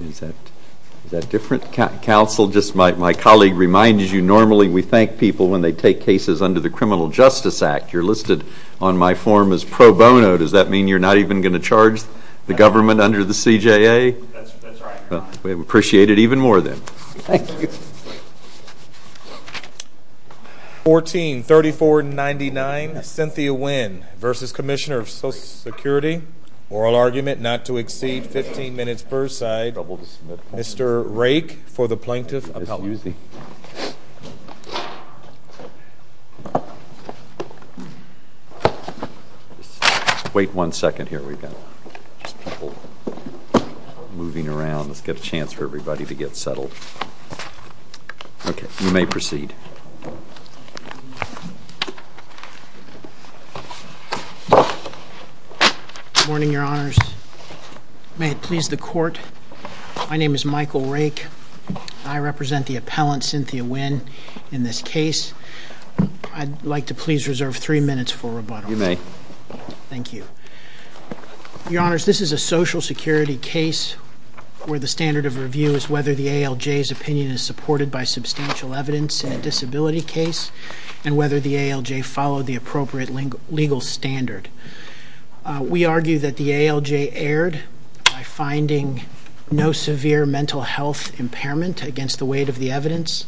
Is that different, counsel? Just my colleague reminds you normally we thank people when they take cases under the Criminal Justice Act. You're listed on my form as pro bono. Does that mean you're not even going to charge the government under the CJA? That's right. Well, we appreciate it even more then. Thank you. 143499, Cynthia Winn v. Comm of Social Security Oral argument not to exceed 15 minutes per side. Mr. Rake for the Plaintiff Appellate. Excuse me. Wait one second. Here we go. Just people moving around. Let's get a chance for everybody to get settled. Okay. You may proceed. Good morning, Your Honors. May it please the Court. My name is Michael Rake. I represent the appellant, Cynthia Winn, in this case. I'd like to please reserve three minutes for rebuttal. You may. Thank you. Your Honors, this is a Social Security case where the standard of review is whether the ALJ's opinion is supported by substantial evidence in a disability case and whether the ALJ followed the appropriate legal standard. We argue that the ALJ erred by finding no severe mental health impairment against the weight of the evidence.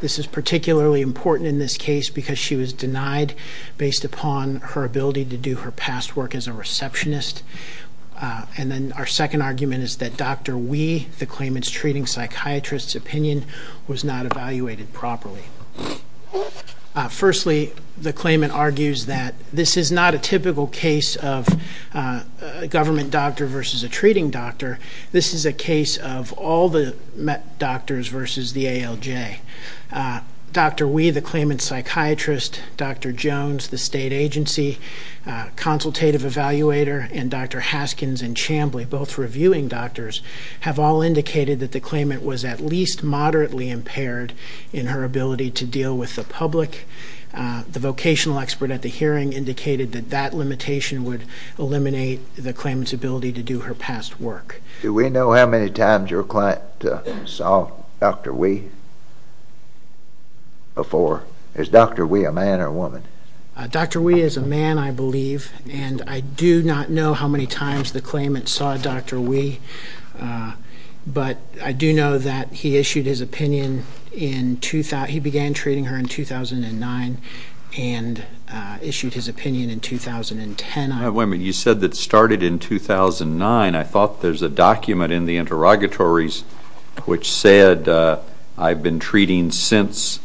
This is particularly important in this case because she was denied based upon her ability to do her past work as a receptionist. And then our second argument is that Dr. Wee, the claimant's treating psychiatrist's opinion, was not evaluated properly. Firstly, the claimant argues that this is not a typical case of a government doctor versus a treating doctor. This is a case of all the doctors versus the ALJ. Dr. Wee, the claimant's psychiatrist, Dr. Jones, the state agency consultative evaluator, and Dr. Haskins and Chambly, both reviewing doctors, have all indicated that the claimant was at least moderately impaired in her ability to deal with the public. The vocational expert at the hearing indicated that that limitation would eliminate the claimant's ability to do her past work. Do we know how many times your client saw Dr. Wee before? Is Dr. Wee a man or a woman? Dr. Wee is a man, I believe, and I do not know how many times the claimant saw Dr. Wee, but I do know that he began treating her in 2009 and issued his opinion in 2010. Wait a minute. You said that started in 2009. I thought there's a document in the interrogatories which said I've been treating since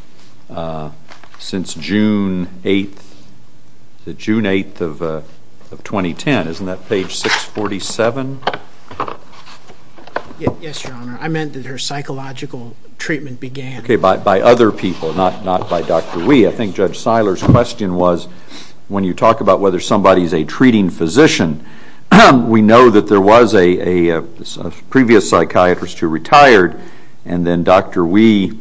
June 8th of 2010. Isn't that page 647? Yes, Your Honor. I meant that her psychological treatment began. Okay, by other people, not by Dr. Wee. I think Judge Siler's question was when you talk about whether somebody is a treating physician, we know that there was a previous psychiatrist who retired and then Dr. Wee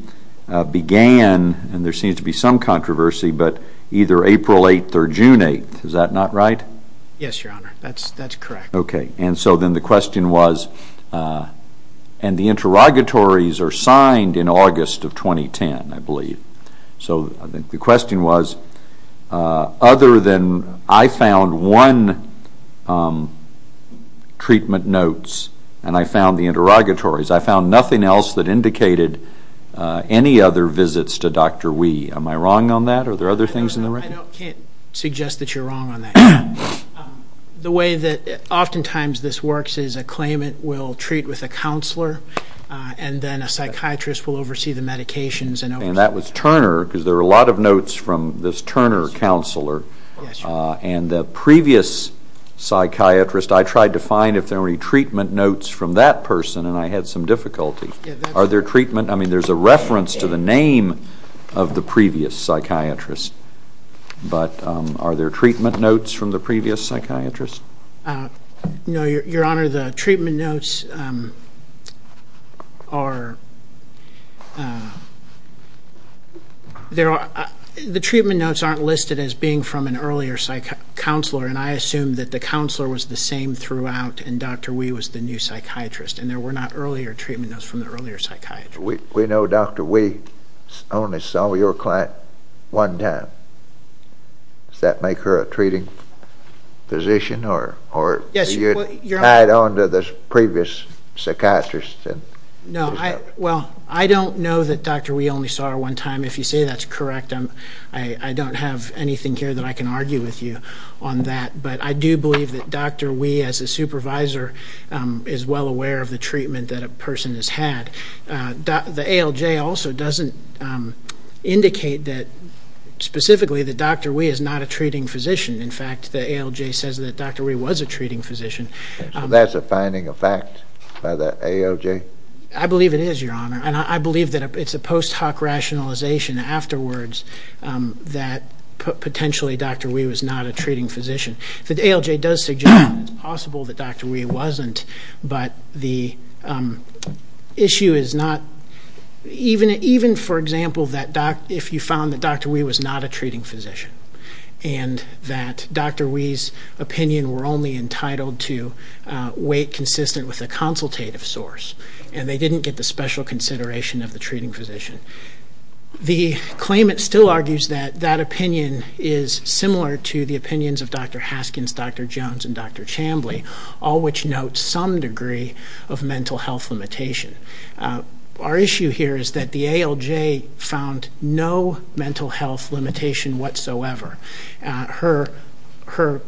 began, and there seems to be some controversy, but either April 8th or June 8th. Is that not right? Yes, Your Honor. That's correct. Okay, and so then the question was, and the interrogatories are signed in August of 2010, I believe. So the question was, other than I found one treatment notes and I found the interrogatories, I found nothing else that indicated any other visits to Dr. Wee. Am I wrong on that? Are there other things in the record? I can't suggest that you're wrong on that. The way that oftentimes this works is a claimant will treat with a counselor and then a psychiatrist will oversee the medications. And that was Turner, because there were a lot of notes from this Turner counselor. And the previous psychiatrist, I tried to find if there were any treatment notes from that person, and I had some difficulty. I mean, there's a reference to the name of the previous psychiatrist, but are there treatment notes from the previous psychiatrist? No, Your Honor, the treatment notes aren't listed as being from an earlier counselor, and I assume that the counselor was the same throughout and Dr. Wee was the new psychiatrist, and there were not earlier treatment notes from the earlier psychiatrist. We know Dr. Wee only saw your client one time. Does that make her a treating physician or are you tied on to the previous psychiatrist? No, well, I don't know that Dr. Wee only saw her one time. If you say that's correct, I don't have anything here that I can argue with you on that. But I do believe that Dr. Wee as a supervisor is well aware of the treatment that a person has had. The ALJ also doesn't indicate that specifically that Dr. Wee is not a treating physician. In fact, the ALJ says that Dr. Wee was a treating physician. So that's a finding of fact by the ALJ? I believe it is, Your Honor, and I believe that it's a post hoc rationalization afterwards that potentially Dr. Wee was not a treating physician. The ALJ does suggest that it's possible that Dr. Wee wasn't, but the issue is not even, for example, if you found that Dr. Wee was not a treating physician and that Dr. Wee's opinion were only entitled to wait consistent with a consultative source and they didn't get the special consideration of the treating physician. The claimant still argues that that opinion is similar to the opinions of Dr. Haskins, Dr. Jones, and Dr. Chambly, all which note some degree of mental health limitation. Our issue here is that the ALJ found no mental health limitation whatsoever. Her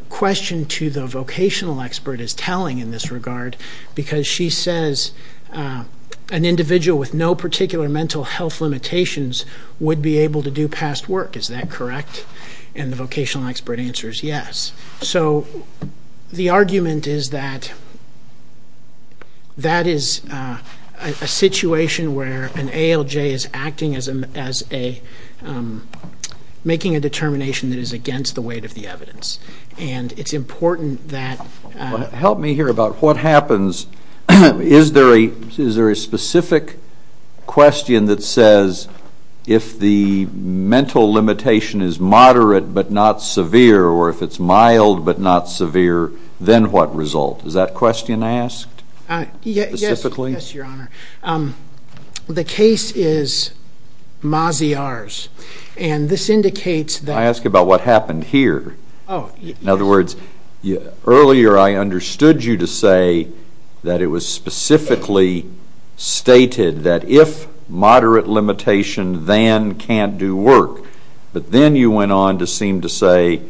question to the vocational expert is telling in this regard because she says an individual with no particular mental health limitations would be able to do past work. Is that correct? And the vocational expert answers yes. So the argument is that that is a situation where an ALJ is acting as making a determination that is against the weight of the evidence. And it's important that... Help me here about what happens. Is there a specific question that says if the mental limitation is moderate but not severe or if it's mild but not severe, then what result? Is that question asked specifically? Yes, Your Honor. The case is Maziar's, and this indicates that... Can I ask about what happened here? Oh, yes. In other words, earlier I understood you to say that it was specifically stated that if moderate limitation, then can't do work. But then you went on to seem to say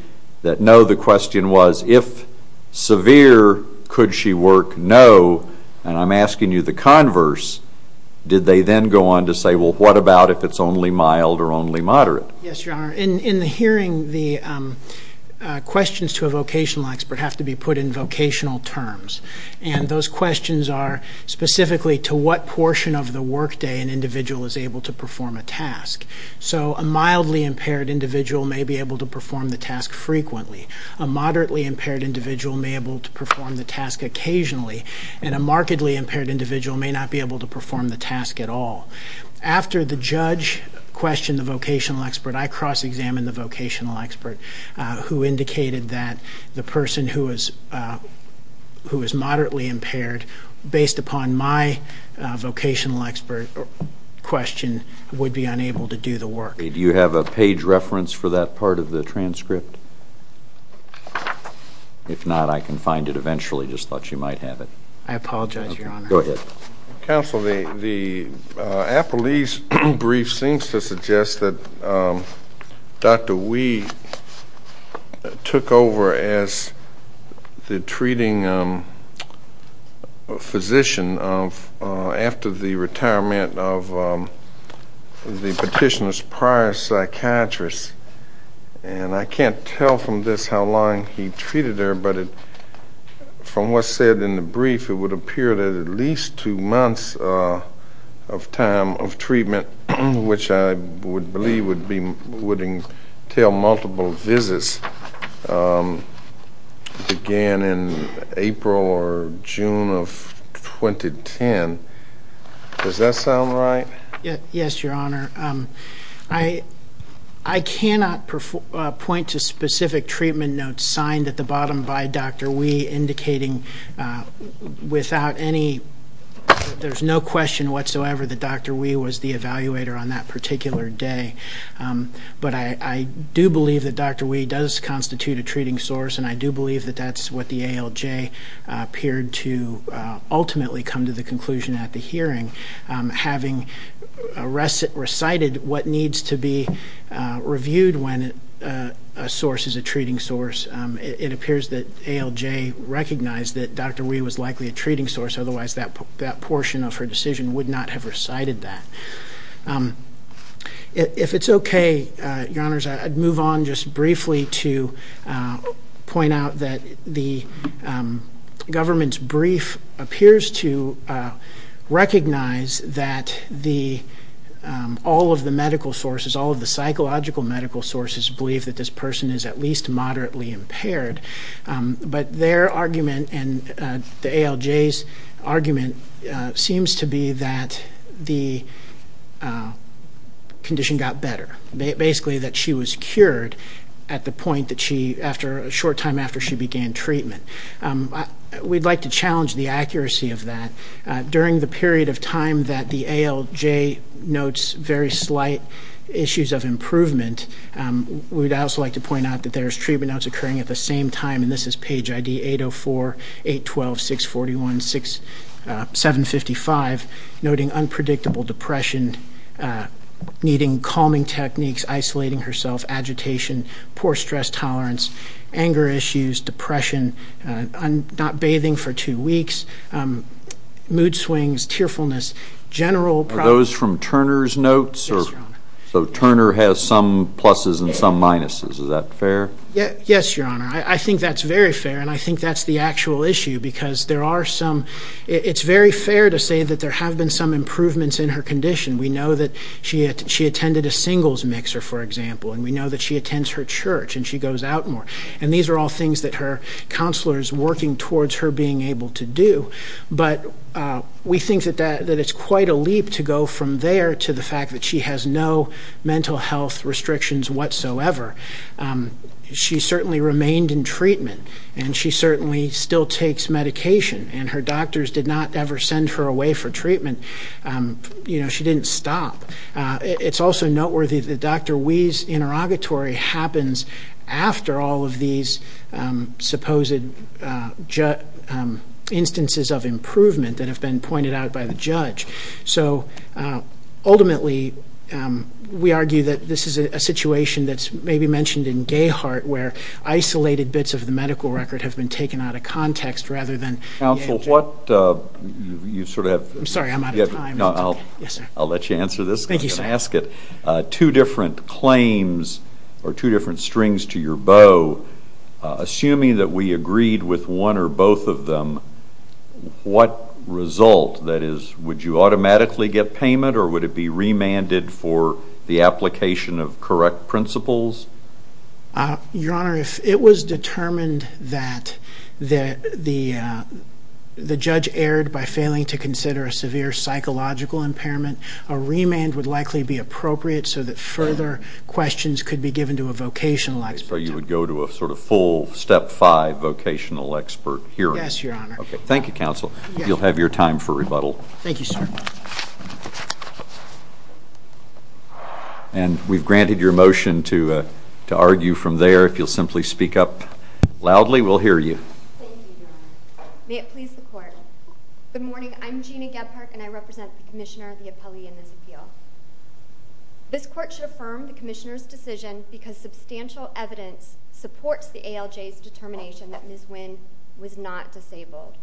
that, no, the question was if severe, could she work? No. And I'm asking you the converse. Did they then go on to say, well, what about if it's only mild or only moderate? Yes, Your Honor. In the hearing, the questions to a vocational expert have to be put in vocational terms. And those questions are specifically to what portion of the workday an individual is able to perform a task. So a mildly impaired individual may be able to perform the task frequently. A moderately impaired individual may be able to perform the task occasionally. And a markedly impaired individual may not be able to perform the task at all. After the judge questioned the vocational expert, I cross-examined the vocational expert who indicated that the person who is moderately impaired, based upon my vocational expert question, would be unable to do the work. Do you have a page reference for that part of the transcript? If not, I can find it eventually. Just thought you might have it. I apologize, Your Honor. Go ahead. Counsel, the appellee's brief seems to suggest that Dr. Wee took over as the treating physician after the retirement of the petitioner's prior psychiatrist. And I can't tell from this how long he treated her, but from what's said in the brief, it would appear that at least two months of time of treatment, which I would believe would entail multiple visits, began in April or June of 2010. Does that sound right? Yes, Your Honor. I cannot point to specific treatment notes signed at the bottom by Dr. Wee, indicating without any question whatsoever that Dr. Wee was the evaluator on that particular day. But I do believe that Dr. Wee does constitute a treating source, and I do believe that that's what the ALJ appeared to ultimately come to the conclusion at the hearing. Having recited what needs to be reviewed when a source is a treating source, it appears that ALJ recognized that Dr. Wee was likely a treating source, otherwise that portion of her decision would not have recited that. If it's okay, Your Honors, I'd move on just briefly to point out that the government's brief appears to recognize that all of the medical sources, all of the psychological medical sources, believe that this person is at least moderately impaired. But their argument and the ALJ's argument seems to be that the condition got better, basically that she was cured at the point that she, a short time after she began treatment. We'd like to challenge the accuracy of that. During the period of time that the ALJ notes very slight issues of improvement, we'd also like to point out that there's treatment notes occurring at the same time, and this is page ID 804, 812, 641, 755, noting unpredictable depression, needing calming techniques, isolating herself, agitation, poor stress tolerance, anger issues, depression, not bathing for two weeks, mood swings, tearfulness, general problems. Are those from Turner's notes? Yes, Your Honor. So Turner has some pluses and some minuses. Is that fair? Yes, Your Honor. I think that's very fair, and I think that's the actual issue because there are some, it's very fair to say that there have been some improvements in her condition. We know that she attended a singles mixer, for example, and we know that she attends her church and she goes out more, and these are all things that her counselor is working towards her being able to do, but we think that it's quite a leap to go from there to the fact that she has no mental health restrictions whatsoever. She certainly remained in treatment, and she certainly still takes medication, and her doctors did not ever send her away for treatment. She didn't stop. It's also noteworthy that Dr. Wee's interrogatory happens after all of these supposed instances of improvement that have been pointed out by the judge. So ultimately, we argue that this is a situation that's maybe mentioned in Gahart where isolated bits of the medical record have been taken out of context rather than- Counsel, what, you sort of have- I'm sorry, I'm out of time. No, I'll let you answer this. Thank you, sir. I'm going to ask it. Two different claims or two different strings to your bow, assuming that we agreed with one or both of them, what result, that is, would you automatically get payment or would it be remanded for the application of correct principles? Your Honor, if it was determined that the judge erred by failing to consider a severe psychological impairment, a remand would likely be appropriate so that further questions could be given to a vocational expert. So you would go to a sort of full step five vocational expert hearing. Yes, Your Honor. Okay, thank you, Counsel. You'll have your time for rebuttal. Thank you, sir. Thank you. And we've granted your motion to argue from there. If you'll simply speak up loudly, we'll hear you. Thank you, Your Honor. May it please the Court. Good morning. I'm Gina Gebhardt and I represent the Commissioner, the appellee in this appeal. This Court should affirm the Commissioner's decision because substantial evidence supports the ALJ's determination that Ms. Wynn was not disabled.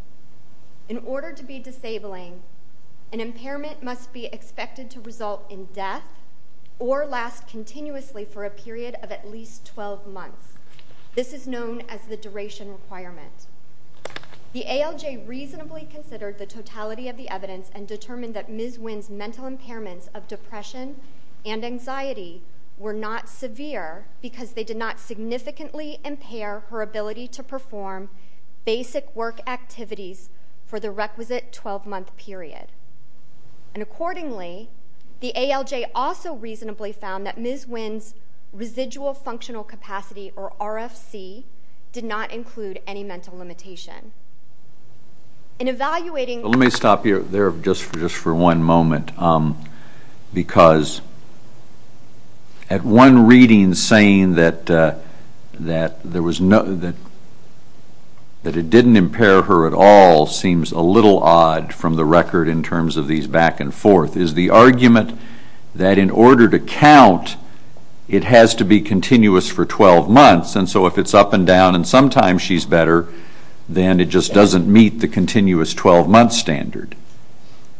In order to be disabling, an impairment must be expected to result in death or last continuously for a period of at least 12 months. This is known as the duration requirement. The ALJ reasonably considered the totality of the evidence and determined that Ms. Wynn's mental impairments of depression and anxiety were not severe because they did not significantly impair her ability to perform basic work activities for the requisite 12-month period. And accordingly, the ALJ also reasonably found that Ms. Wynn's residual functional capacity, or RFC, did not include any mental limitation. In evaluating Let me stop you there just for one moment because at one reading saying that it didn't impair her at all seems a little odd from the record in terms of these back and forth, is the argument that in order to count, it has to be continuous for 12 months, and so if it's up and down and sometimes she's better, then it just doesn't meet the continuous 12-month standard.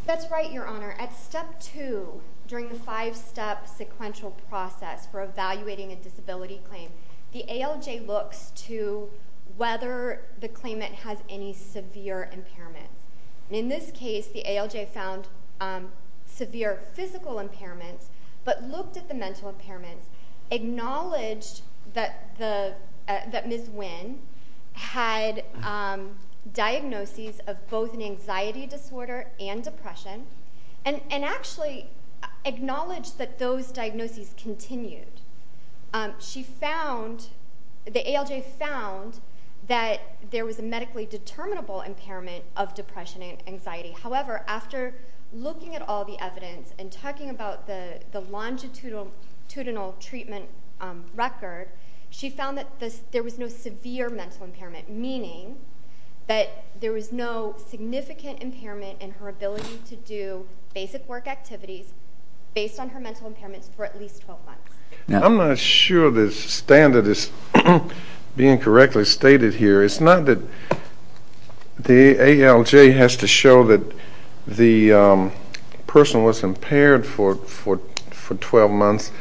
That's right, Your Honor. At Step 2, during the five-step sequential process for evaluating a disability claim, the ALJ looks to whether the claimant has any severe impairment. In this case, the ALJ found severe physical impairments but looked at the mental impairments, acknowledged that Ms. Wynn had diagnoses of both an anxiety disorder and depression, and actually acknowledged that those diagnoses continued. The ALJ found that there was a medically determinable impairment of depression and anxiety. However, after looking at all the evidence and talking about the longitudinal treatment record, she found that there was no severe mental impairment, meaning that there was no significant impairment in her ability to do basic work activities based on her mental impairments for at least 12 months. I'm not sure this standard is being correctly stated here. It's not that the ALJ has to show that the person was impaired for 12 months.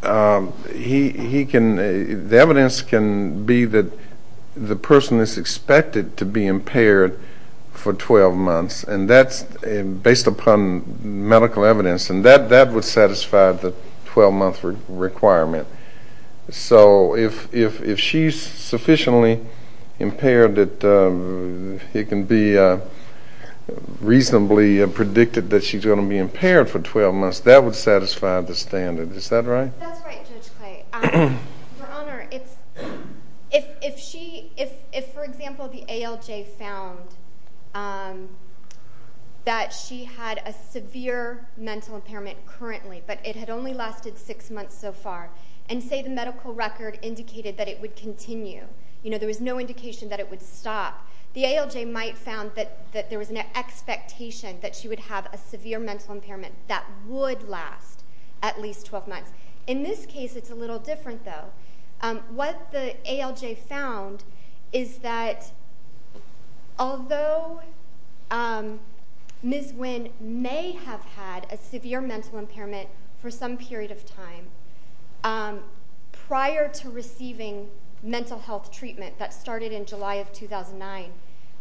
The evidence can be that the person is expected to be impaired for 12 months, and that's based upon medical evidence, and that would satisfy the 12-month requirement. So if she's sufficiently impaired that it can be reasonably predicted that she's going to be impaired for 12 months, that would satisfy the standard. Is that right? That's right, Judge Clay. Your Honor, if, for example, the ALJ found that she had a severe mental impairment currently, but it had only lasted six months so far, and say the medical record indicated that it would continue, you know, there was no indication that it would stop, the ALJ might have found that there was an expectation that she would have a severe mental impairment that would last at least 12 months. In this case, it's a little different, though. What the ALJ found is that although Ms. Wynn may have had a severe mental impairment for some period of time prior to receiving mental health treatment that started in July of 2009,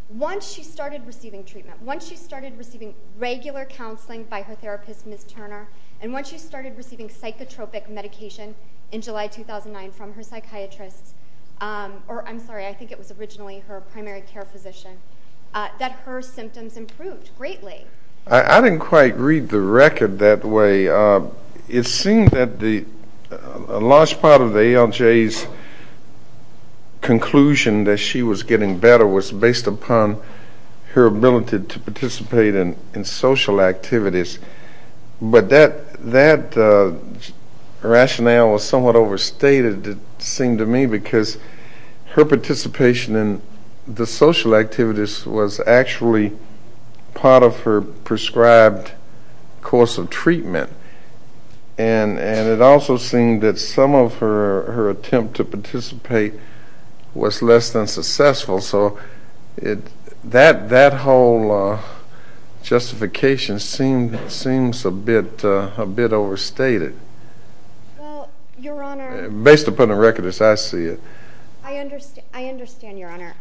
once she started receiving treatment, once she started receiving regular counseling by her therapist, Ms. Turner, and once she started receiving psychotropic medication in July 2009 from her psychiatrist, or I'm sorry, I think it was originally her primary care physician, that her symptoms improved greatly. I didn't quite read the record that way. It seemed that a large part of the ALJ's conclusion that she was getting better was based upon her ability to participate in social activities, but that rationale was somewhat overstated, it seemed to me, because her participation in the social activities was actually part of her prescribed course of treatment, and it also seemed that some of her attempt to participate was less than successful, so that whole justification seems a bit overstated, based upon the record as I see it. I understand, Your Honor.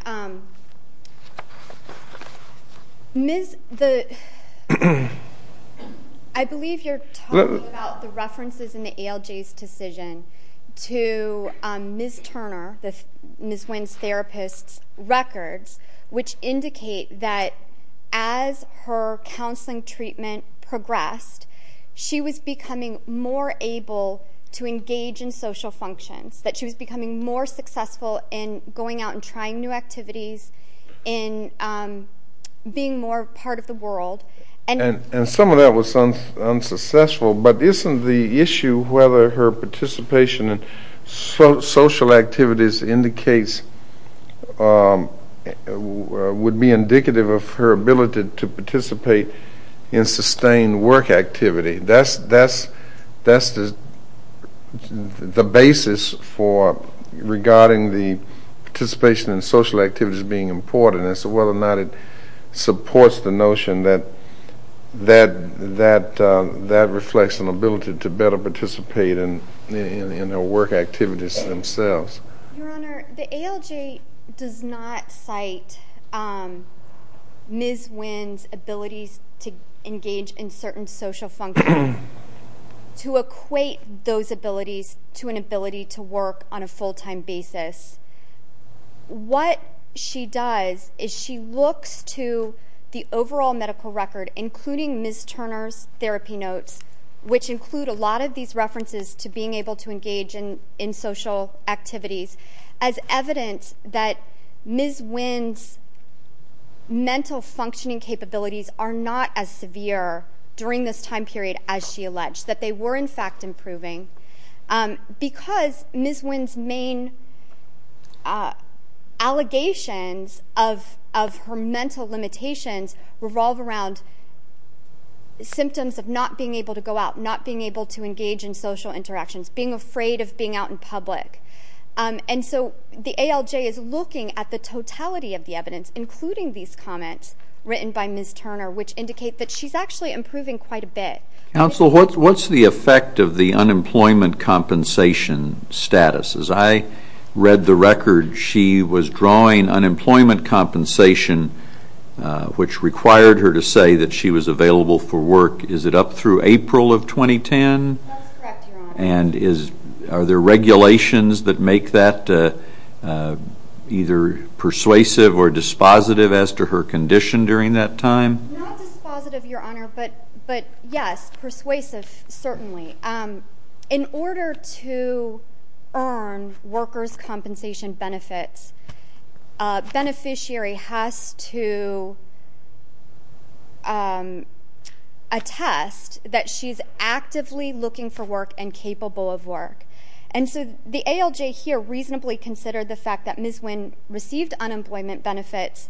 I believe you're talking about the references in the ALJ's decision to Ms. Turner, Ms. Wynn's therapist's records, which indicate that as her counseling treatment progressed, she was becoming more able to engage in social functions, that she was becoming more successful in going out and trying new activities, in being more part of the world. And some of that was unsuccessful, but isn't the issue whether her participation in social activities indicates, would be indicative of her ability to participate in sustained work activity. That's the basis for regarding the participation in social activities being important, and whether or not it supports the notion that that reflects an ability to better participate in her work activities themselves. Your Honor, the ALJ does not cite Ms. Wynn's abilities to engage in certain social functions, to equate those abilities to an ability to work on a full-time basis. What she does is she looks to the overall medical record, including Ms. Turner's therapy notes, which include a lot of these references to being able to engage in social activities, as evidence that Ms. Wynn's mental functioning capabilities are not as severe during this time period as she alleged, that they were, in fact, improving. Because Ms. Wynn's main allegations of her mental limitations revolve around symptoms of not being able to go out, not being able to engage in social interactions, being afraid of being out in public. And so the ALJ is looking at the totality of the evidence, including these comments written by Ms. Turner, which indicate that she's actually improving quite a bit. Counsel, what's the effect of the unemployment compensation status? As I read the record, she was drawing unemployment compensation, which required her to say that she was available for work. Is it up through April of 2010? That's correct, Your Honor. And are there regulations that make that either persuasive or dispositive as to her condition during that time? Not dispositive, Your Honor, but yes, persuasive, certainly. In order to earn workers' compensation benefits, a beneficiary has to attest that she's actively looking for work and capable of work. And so the ALJ here reasonably considered the fact that Ms. Wynn received unemployment benefits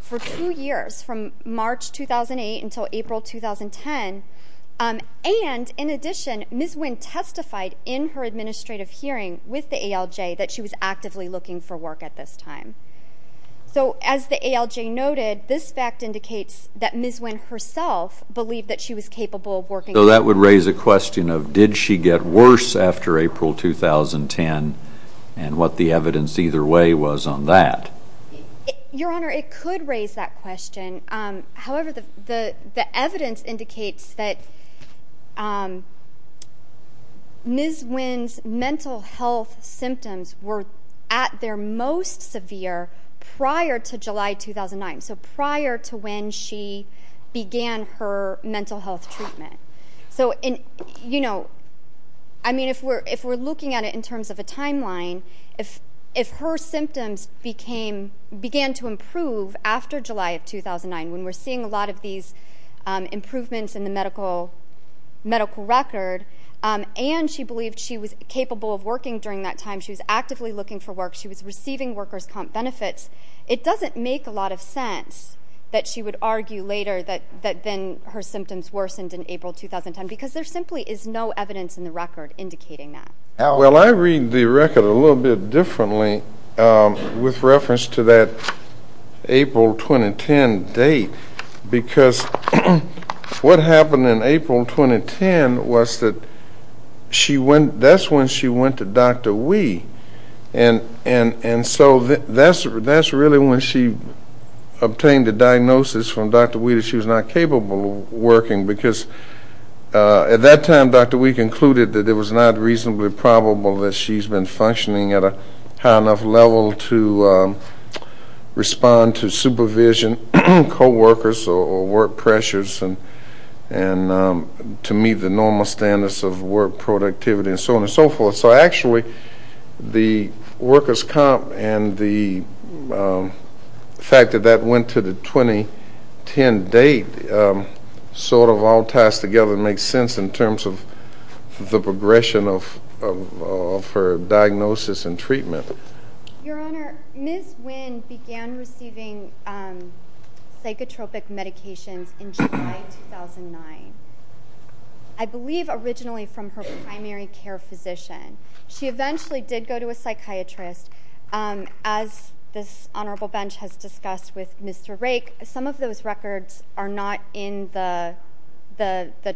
for two years, from March 2008 until April 2010. And in addition, Ms. Wynn testified in her administrative hearing with the ALJ that she was actively looking for work at this time. So as the ALJ noted, this fact indicates that Ms. Wynn herself believed that she was capable of working. So that would raise a question of did she get worse after April 2010 and what the evidence either way was on that? Your Honor, it could raise that question. However, the evidence indicates that Ms. Wynn's mental health symptoms were at their most severe prior to July 2009, so prior to when she began her mental health treatment. So, you know, I mean, if we're looking at it in terms of a timeline, if her symptoms began to improve after July of 2009 when we're seeing a lot of these improvements in the medical record and she believed she was capable of working during that time, she was actively looking for work, she was receiving workers' comp benefits, it doesn't make a lot of sense that she would argue later that then her symptoms worsened in April 2010 because there simply is no evidence in the record indicating that. Well, I read the record a little bit differently with reference to that April 2010 date because what happened in April 2010 was that that's when she went to Dr. Wee and so that's really when she obtained the diagnosis from Dr. Wee that she was not capable of working because at that time Dr. Wee concluded that it was not reasonably probable that she's been functioning at a high enough level to respond to supervision, coworkers, or work pressures and to meet the normal standards of work productivity and so on and so forth. So actually the workers' comp and the fact that that went to the 2010 date sort of all ties together and makes sense in terms of the progression of her diagnosis and treatment. Your Honor, Ms. Winn began receiving psychotropic medications in July 2009. I believe originally from her primary care physician. She eventually did go to a psychiatrist. As this Honorable Bench has discussed with Mr. Rake, some of those records are not in the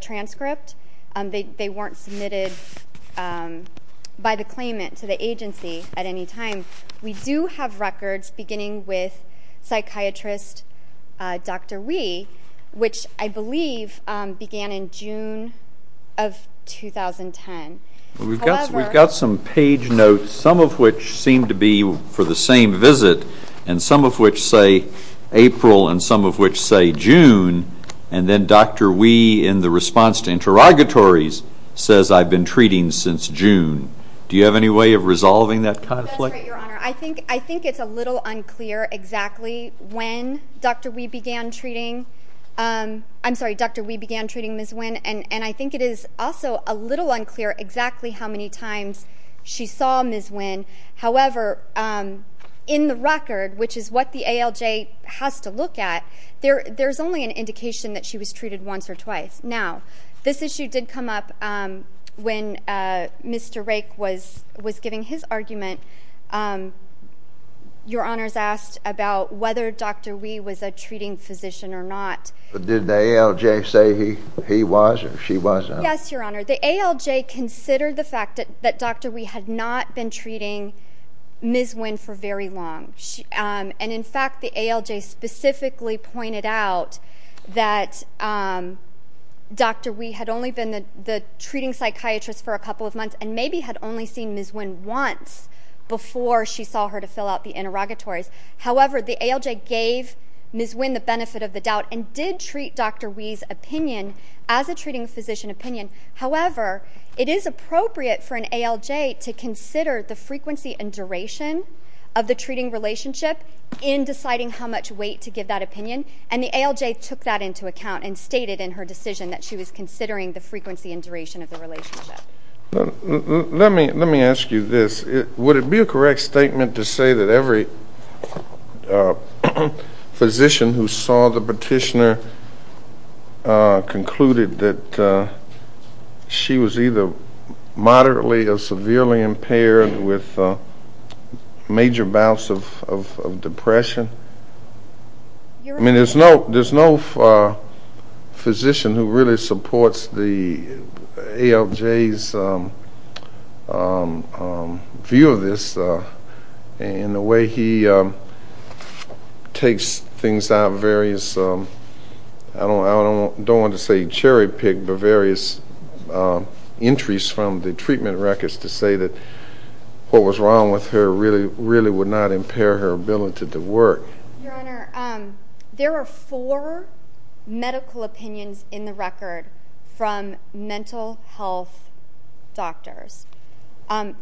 transcript. They weren't submitted by the claimant to the agency at any time. We do have records beginning with psychiatrist Dr. Wee, which I believe began in June of 2010. We've got some page notes, some of which seem to be for the same visit and some of which say April and some of which say June and then Dr. Wee in the response to interrogatories says I've been treating since June. Do you have any way of resolving that conflict? That's right, Your Honor. I think it's a little unclear exactly when Dr. Wee began treating Ms. Winn and I think it is also a little unclear exactly how many times she saw Ms. Winn. However, in the record, which is what the ALJ has to look at, there's only an indication that she was treated once or twice. Now, this issue did come up when Mr. Rake was giving his argument. Your Honors asked about whether Dr. Wee was a treating physician or not. Did the ALJ say he was or she was? Yes, Your Honor. The ALJ considered the fact that Dr. Wee had not been treating Ms. Winn for very long. In fact, the ALJ specifically pointed out that Dr. Wee had only been the treating psychiatrist for a couple of months and maybe had only seen Ms. Winn once before she saw her to fill out the interrogatories. However, the ALJ gave Ms. Winn the benefit of the doubt and did treat Dr. Wee's opinion as a treating physician opinion. However, it is appropriate for an ALJ to consider the frequency and duration of the treating relationship in deciding how much weight to give that opinion, and the ALJ took that into account and stated in her decision that she was considering the frequency and duration of the relationship. Let me ask you this. Would it be a correct statement to say that every physician who saw the petitioner concluded that she was either moderately or severely impaired with major bouts of depression? I mean, there's no physician who really supports the ALJ's view of this and the way he takes things out of various, I don't want to say cherry-picked, but various entries from the treatment records to say that what was wrong with her really would not impair her ability to work. Your Honor, there are four medical opinions in the record from mental health doctors. In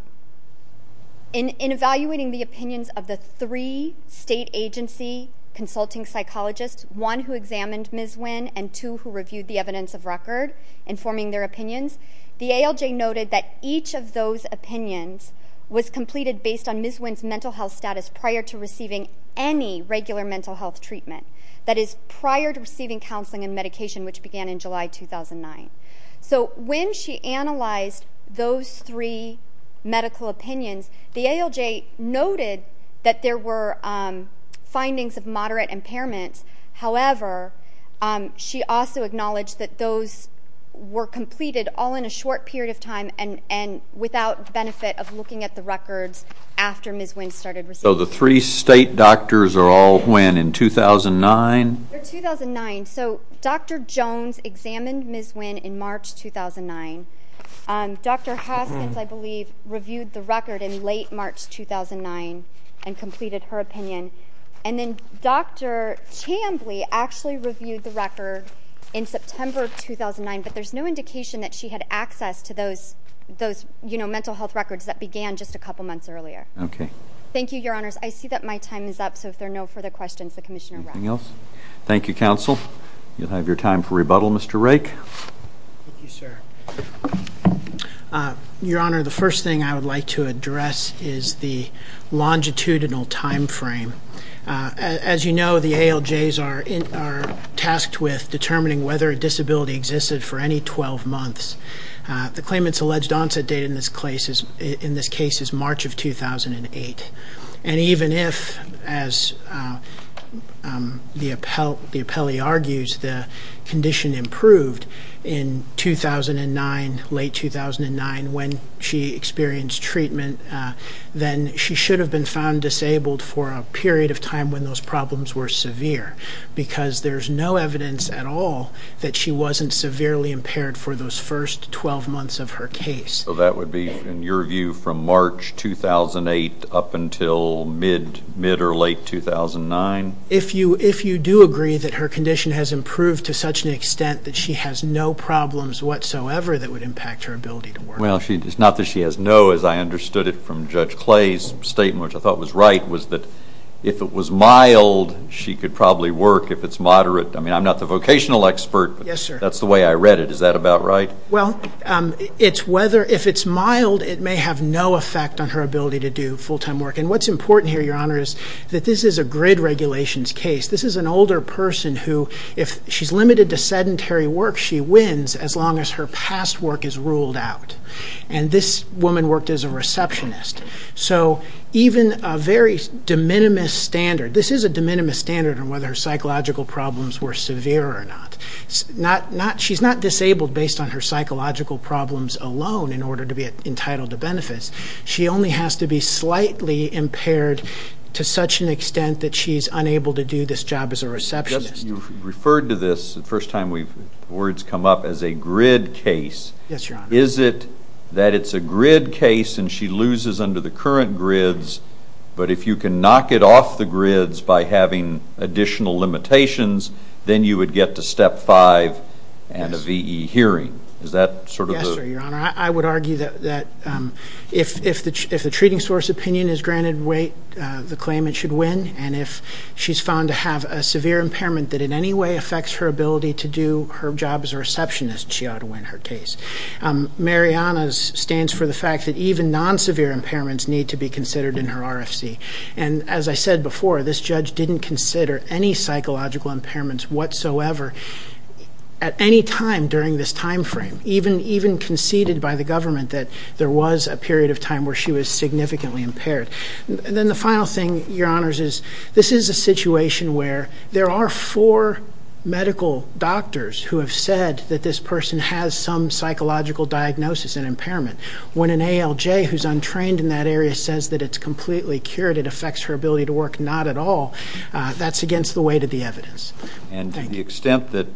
evaluating the opinions of the three state agency consulting psychologists, one who examined Ms. Winn and two who reviewed the evidence of record informing their opinions, the ALJ noted that each of those opinions was completed based on Ms. Winn's mental health status prior to receiving any regular mental health treatment, that is, prior to receiving counseling and medication, which began in July 2009. So when she analyzed those three medical opinions, the ALJ noted that there were findings of moderate impairments. However, she also acknowledged that those were completed all in a short period of time and without benefit of looking at the records after Ms. Winn started receiving them. So the three state doctors are all when, in 2009? They're 2009. So Dr. Jones examined Ms. Winn in March 2009. Dr. Hoskins, I believe, reviewed the record in late March 2009 and completed her opinion. And then Dr. Chambly actually reviewed the record in September 2009, but there's no indication that she had access to those mental health records that began just a couple months earlier. Okay. Thank you, Your Honors. I see that my time is up, so if there are no further questions, the Commissioner will wrap up. Anything else? Thank you, Counsel. You'll have your time for rebuttal, Mr. Rake. Thank you, sir. Your Honor, the first thing I would like to address is the longitudinal time frame. As you know, the ALJs are tasked with determining whether a disability existed for any 12 months. The claimant's alleged onset date in this case is March of 2008. And even if, as the appellee argues, the condition improved in 2009, late 2009, when she experienced treatment, then she should have been found disabled for a period of time when those problems were severe because there's no evidence at all that she wasn't severely impaired for those first 12 months of her case. So that would be, in your view, from March 2008 up until mid or late 2009? If you do agree that her condition has improved to such an extent that she has no problems whatsoever that would impact her ability to work. Well, it's not that she has no, as I understood it from Judge Clay's statement, which I thought was right, was that if it was mild, she could probably work. If it's moderate, I mean, I'm not the vocational expert, but that's the way I read it. Is that about right? Well, if it's mild, it may have no effect on her ability to do full-time work. And what's important here, Your Honor, is that this is a grid regulations case. This is an older person who, if she's limited to sedentary work, she wins as long as her past work is ruled out. And this woman worked as a receptionist. So even a very de minimis standard, this is a de minimis standard on whether her psychological problems were severe or not. She's not disabled based on her psychological problems alone in order to be entitled to benefits. She only has to be slightly impaired to such an extent that she's unable to do this job as a receptionist. You referred to this the first time words come up as a grid case. Yes, Your Honor. Is it that it's a grid case and she loses under the current grids, but if you can knock it off the grids by having additional limitations, then you would get to step five and a V.E. hearing? Is that sort of the? Yes, sir, Your Honor. I would argue that if the treating source opinion is granted weight, the claimant should win. And if she's found to have a severe impairment that in any way affects her ability to do her job as a receptionist, she ought to win her case. Mariana's stands for the fact that even non-severe impairments need to be considered in her RFC. And as I said before, this judge didn't consider any psychological impairments whatsoever at any time during this time frame, even conceded by the government that there was a period of time where she was significantly impaired. And then the final thing, Your Honors, is this is a situation where there are four medical doctors who have said that this person has some psychological diagnosis and impairment. When an ALJ who's untrained in that area says that it's completely cured, it affects her ability to work, not at all, that's against the weight of the evidence. And to the extent that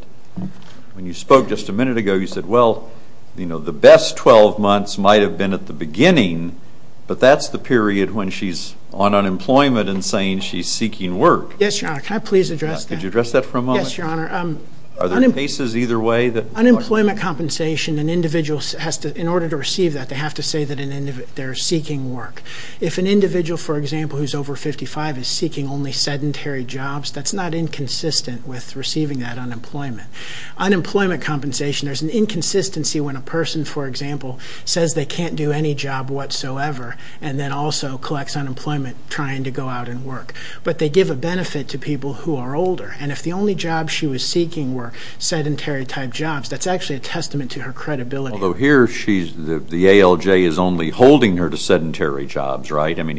when you spoke just a minute ago, you said, well, you know, the best 12 months might have been at the beginning, but that's the period when she's on unemployment and saying she's seeking work. Yes, Your Honor. Can I please address that? Could you address that for a moment? Yes, Your Honor. Are there cases either way? Unemployment compensation, an individual has to, in order to receive that, they have to say that they're seeking work. If an individual, for example, who's over 55 is seeking only sedentary jobs, that's not inconsistent with receiving that unemployment. Unemployment compensation, there's an inconsistency when a person, for example, says they can't do any job whatsoever and then also collects unemployment trying to go out and work. But they give a benefit to people who are older. And if the only jobs she was seeking were sedentary-type jobs, that's actually a testament to her credibility. Although here, the ALJ is only holding her to sedentary jobs, right? I mean,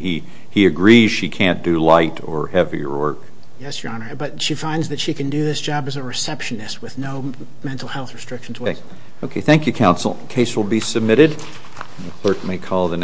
he agrees she can't do light or heavier work. Yes, Your Honor. But she finds that she can do this job as a receptionist with no mental health restrictions. Okay. Thank you, counsel. The case will be submitted. The clerk may call the next.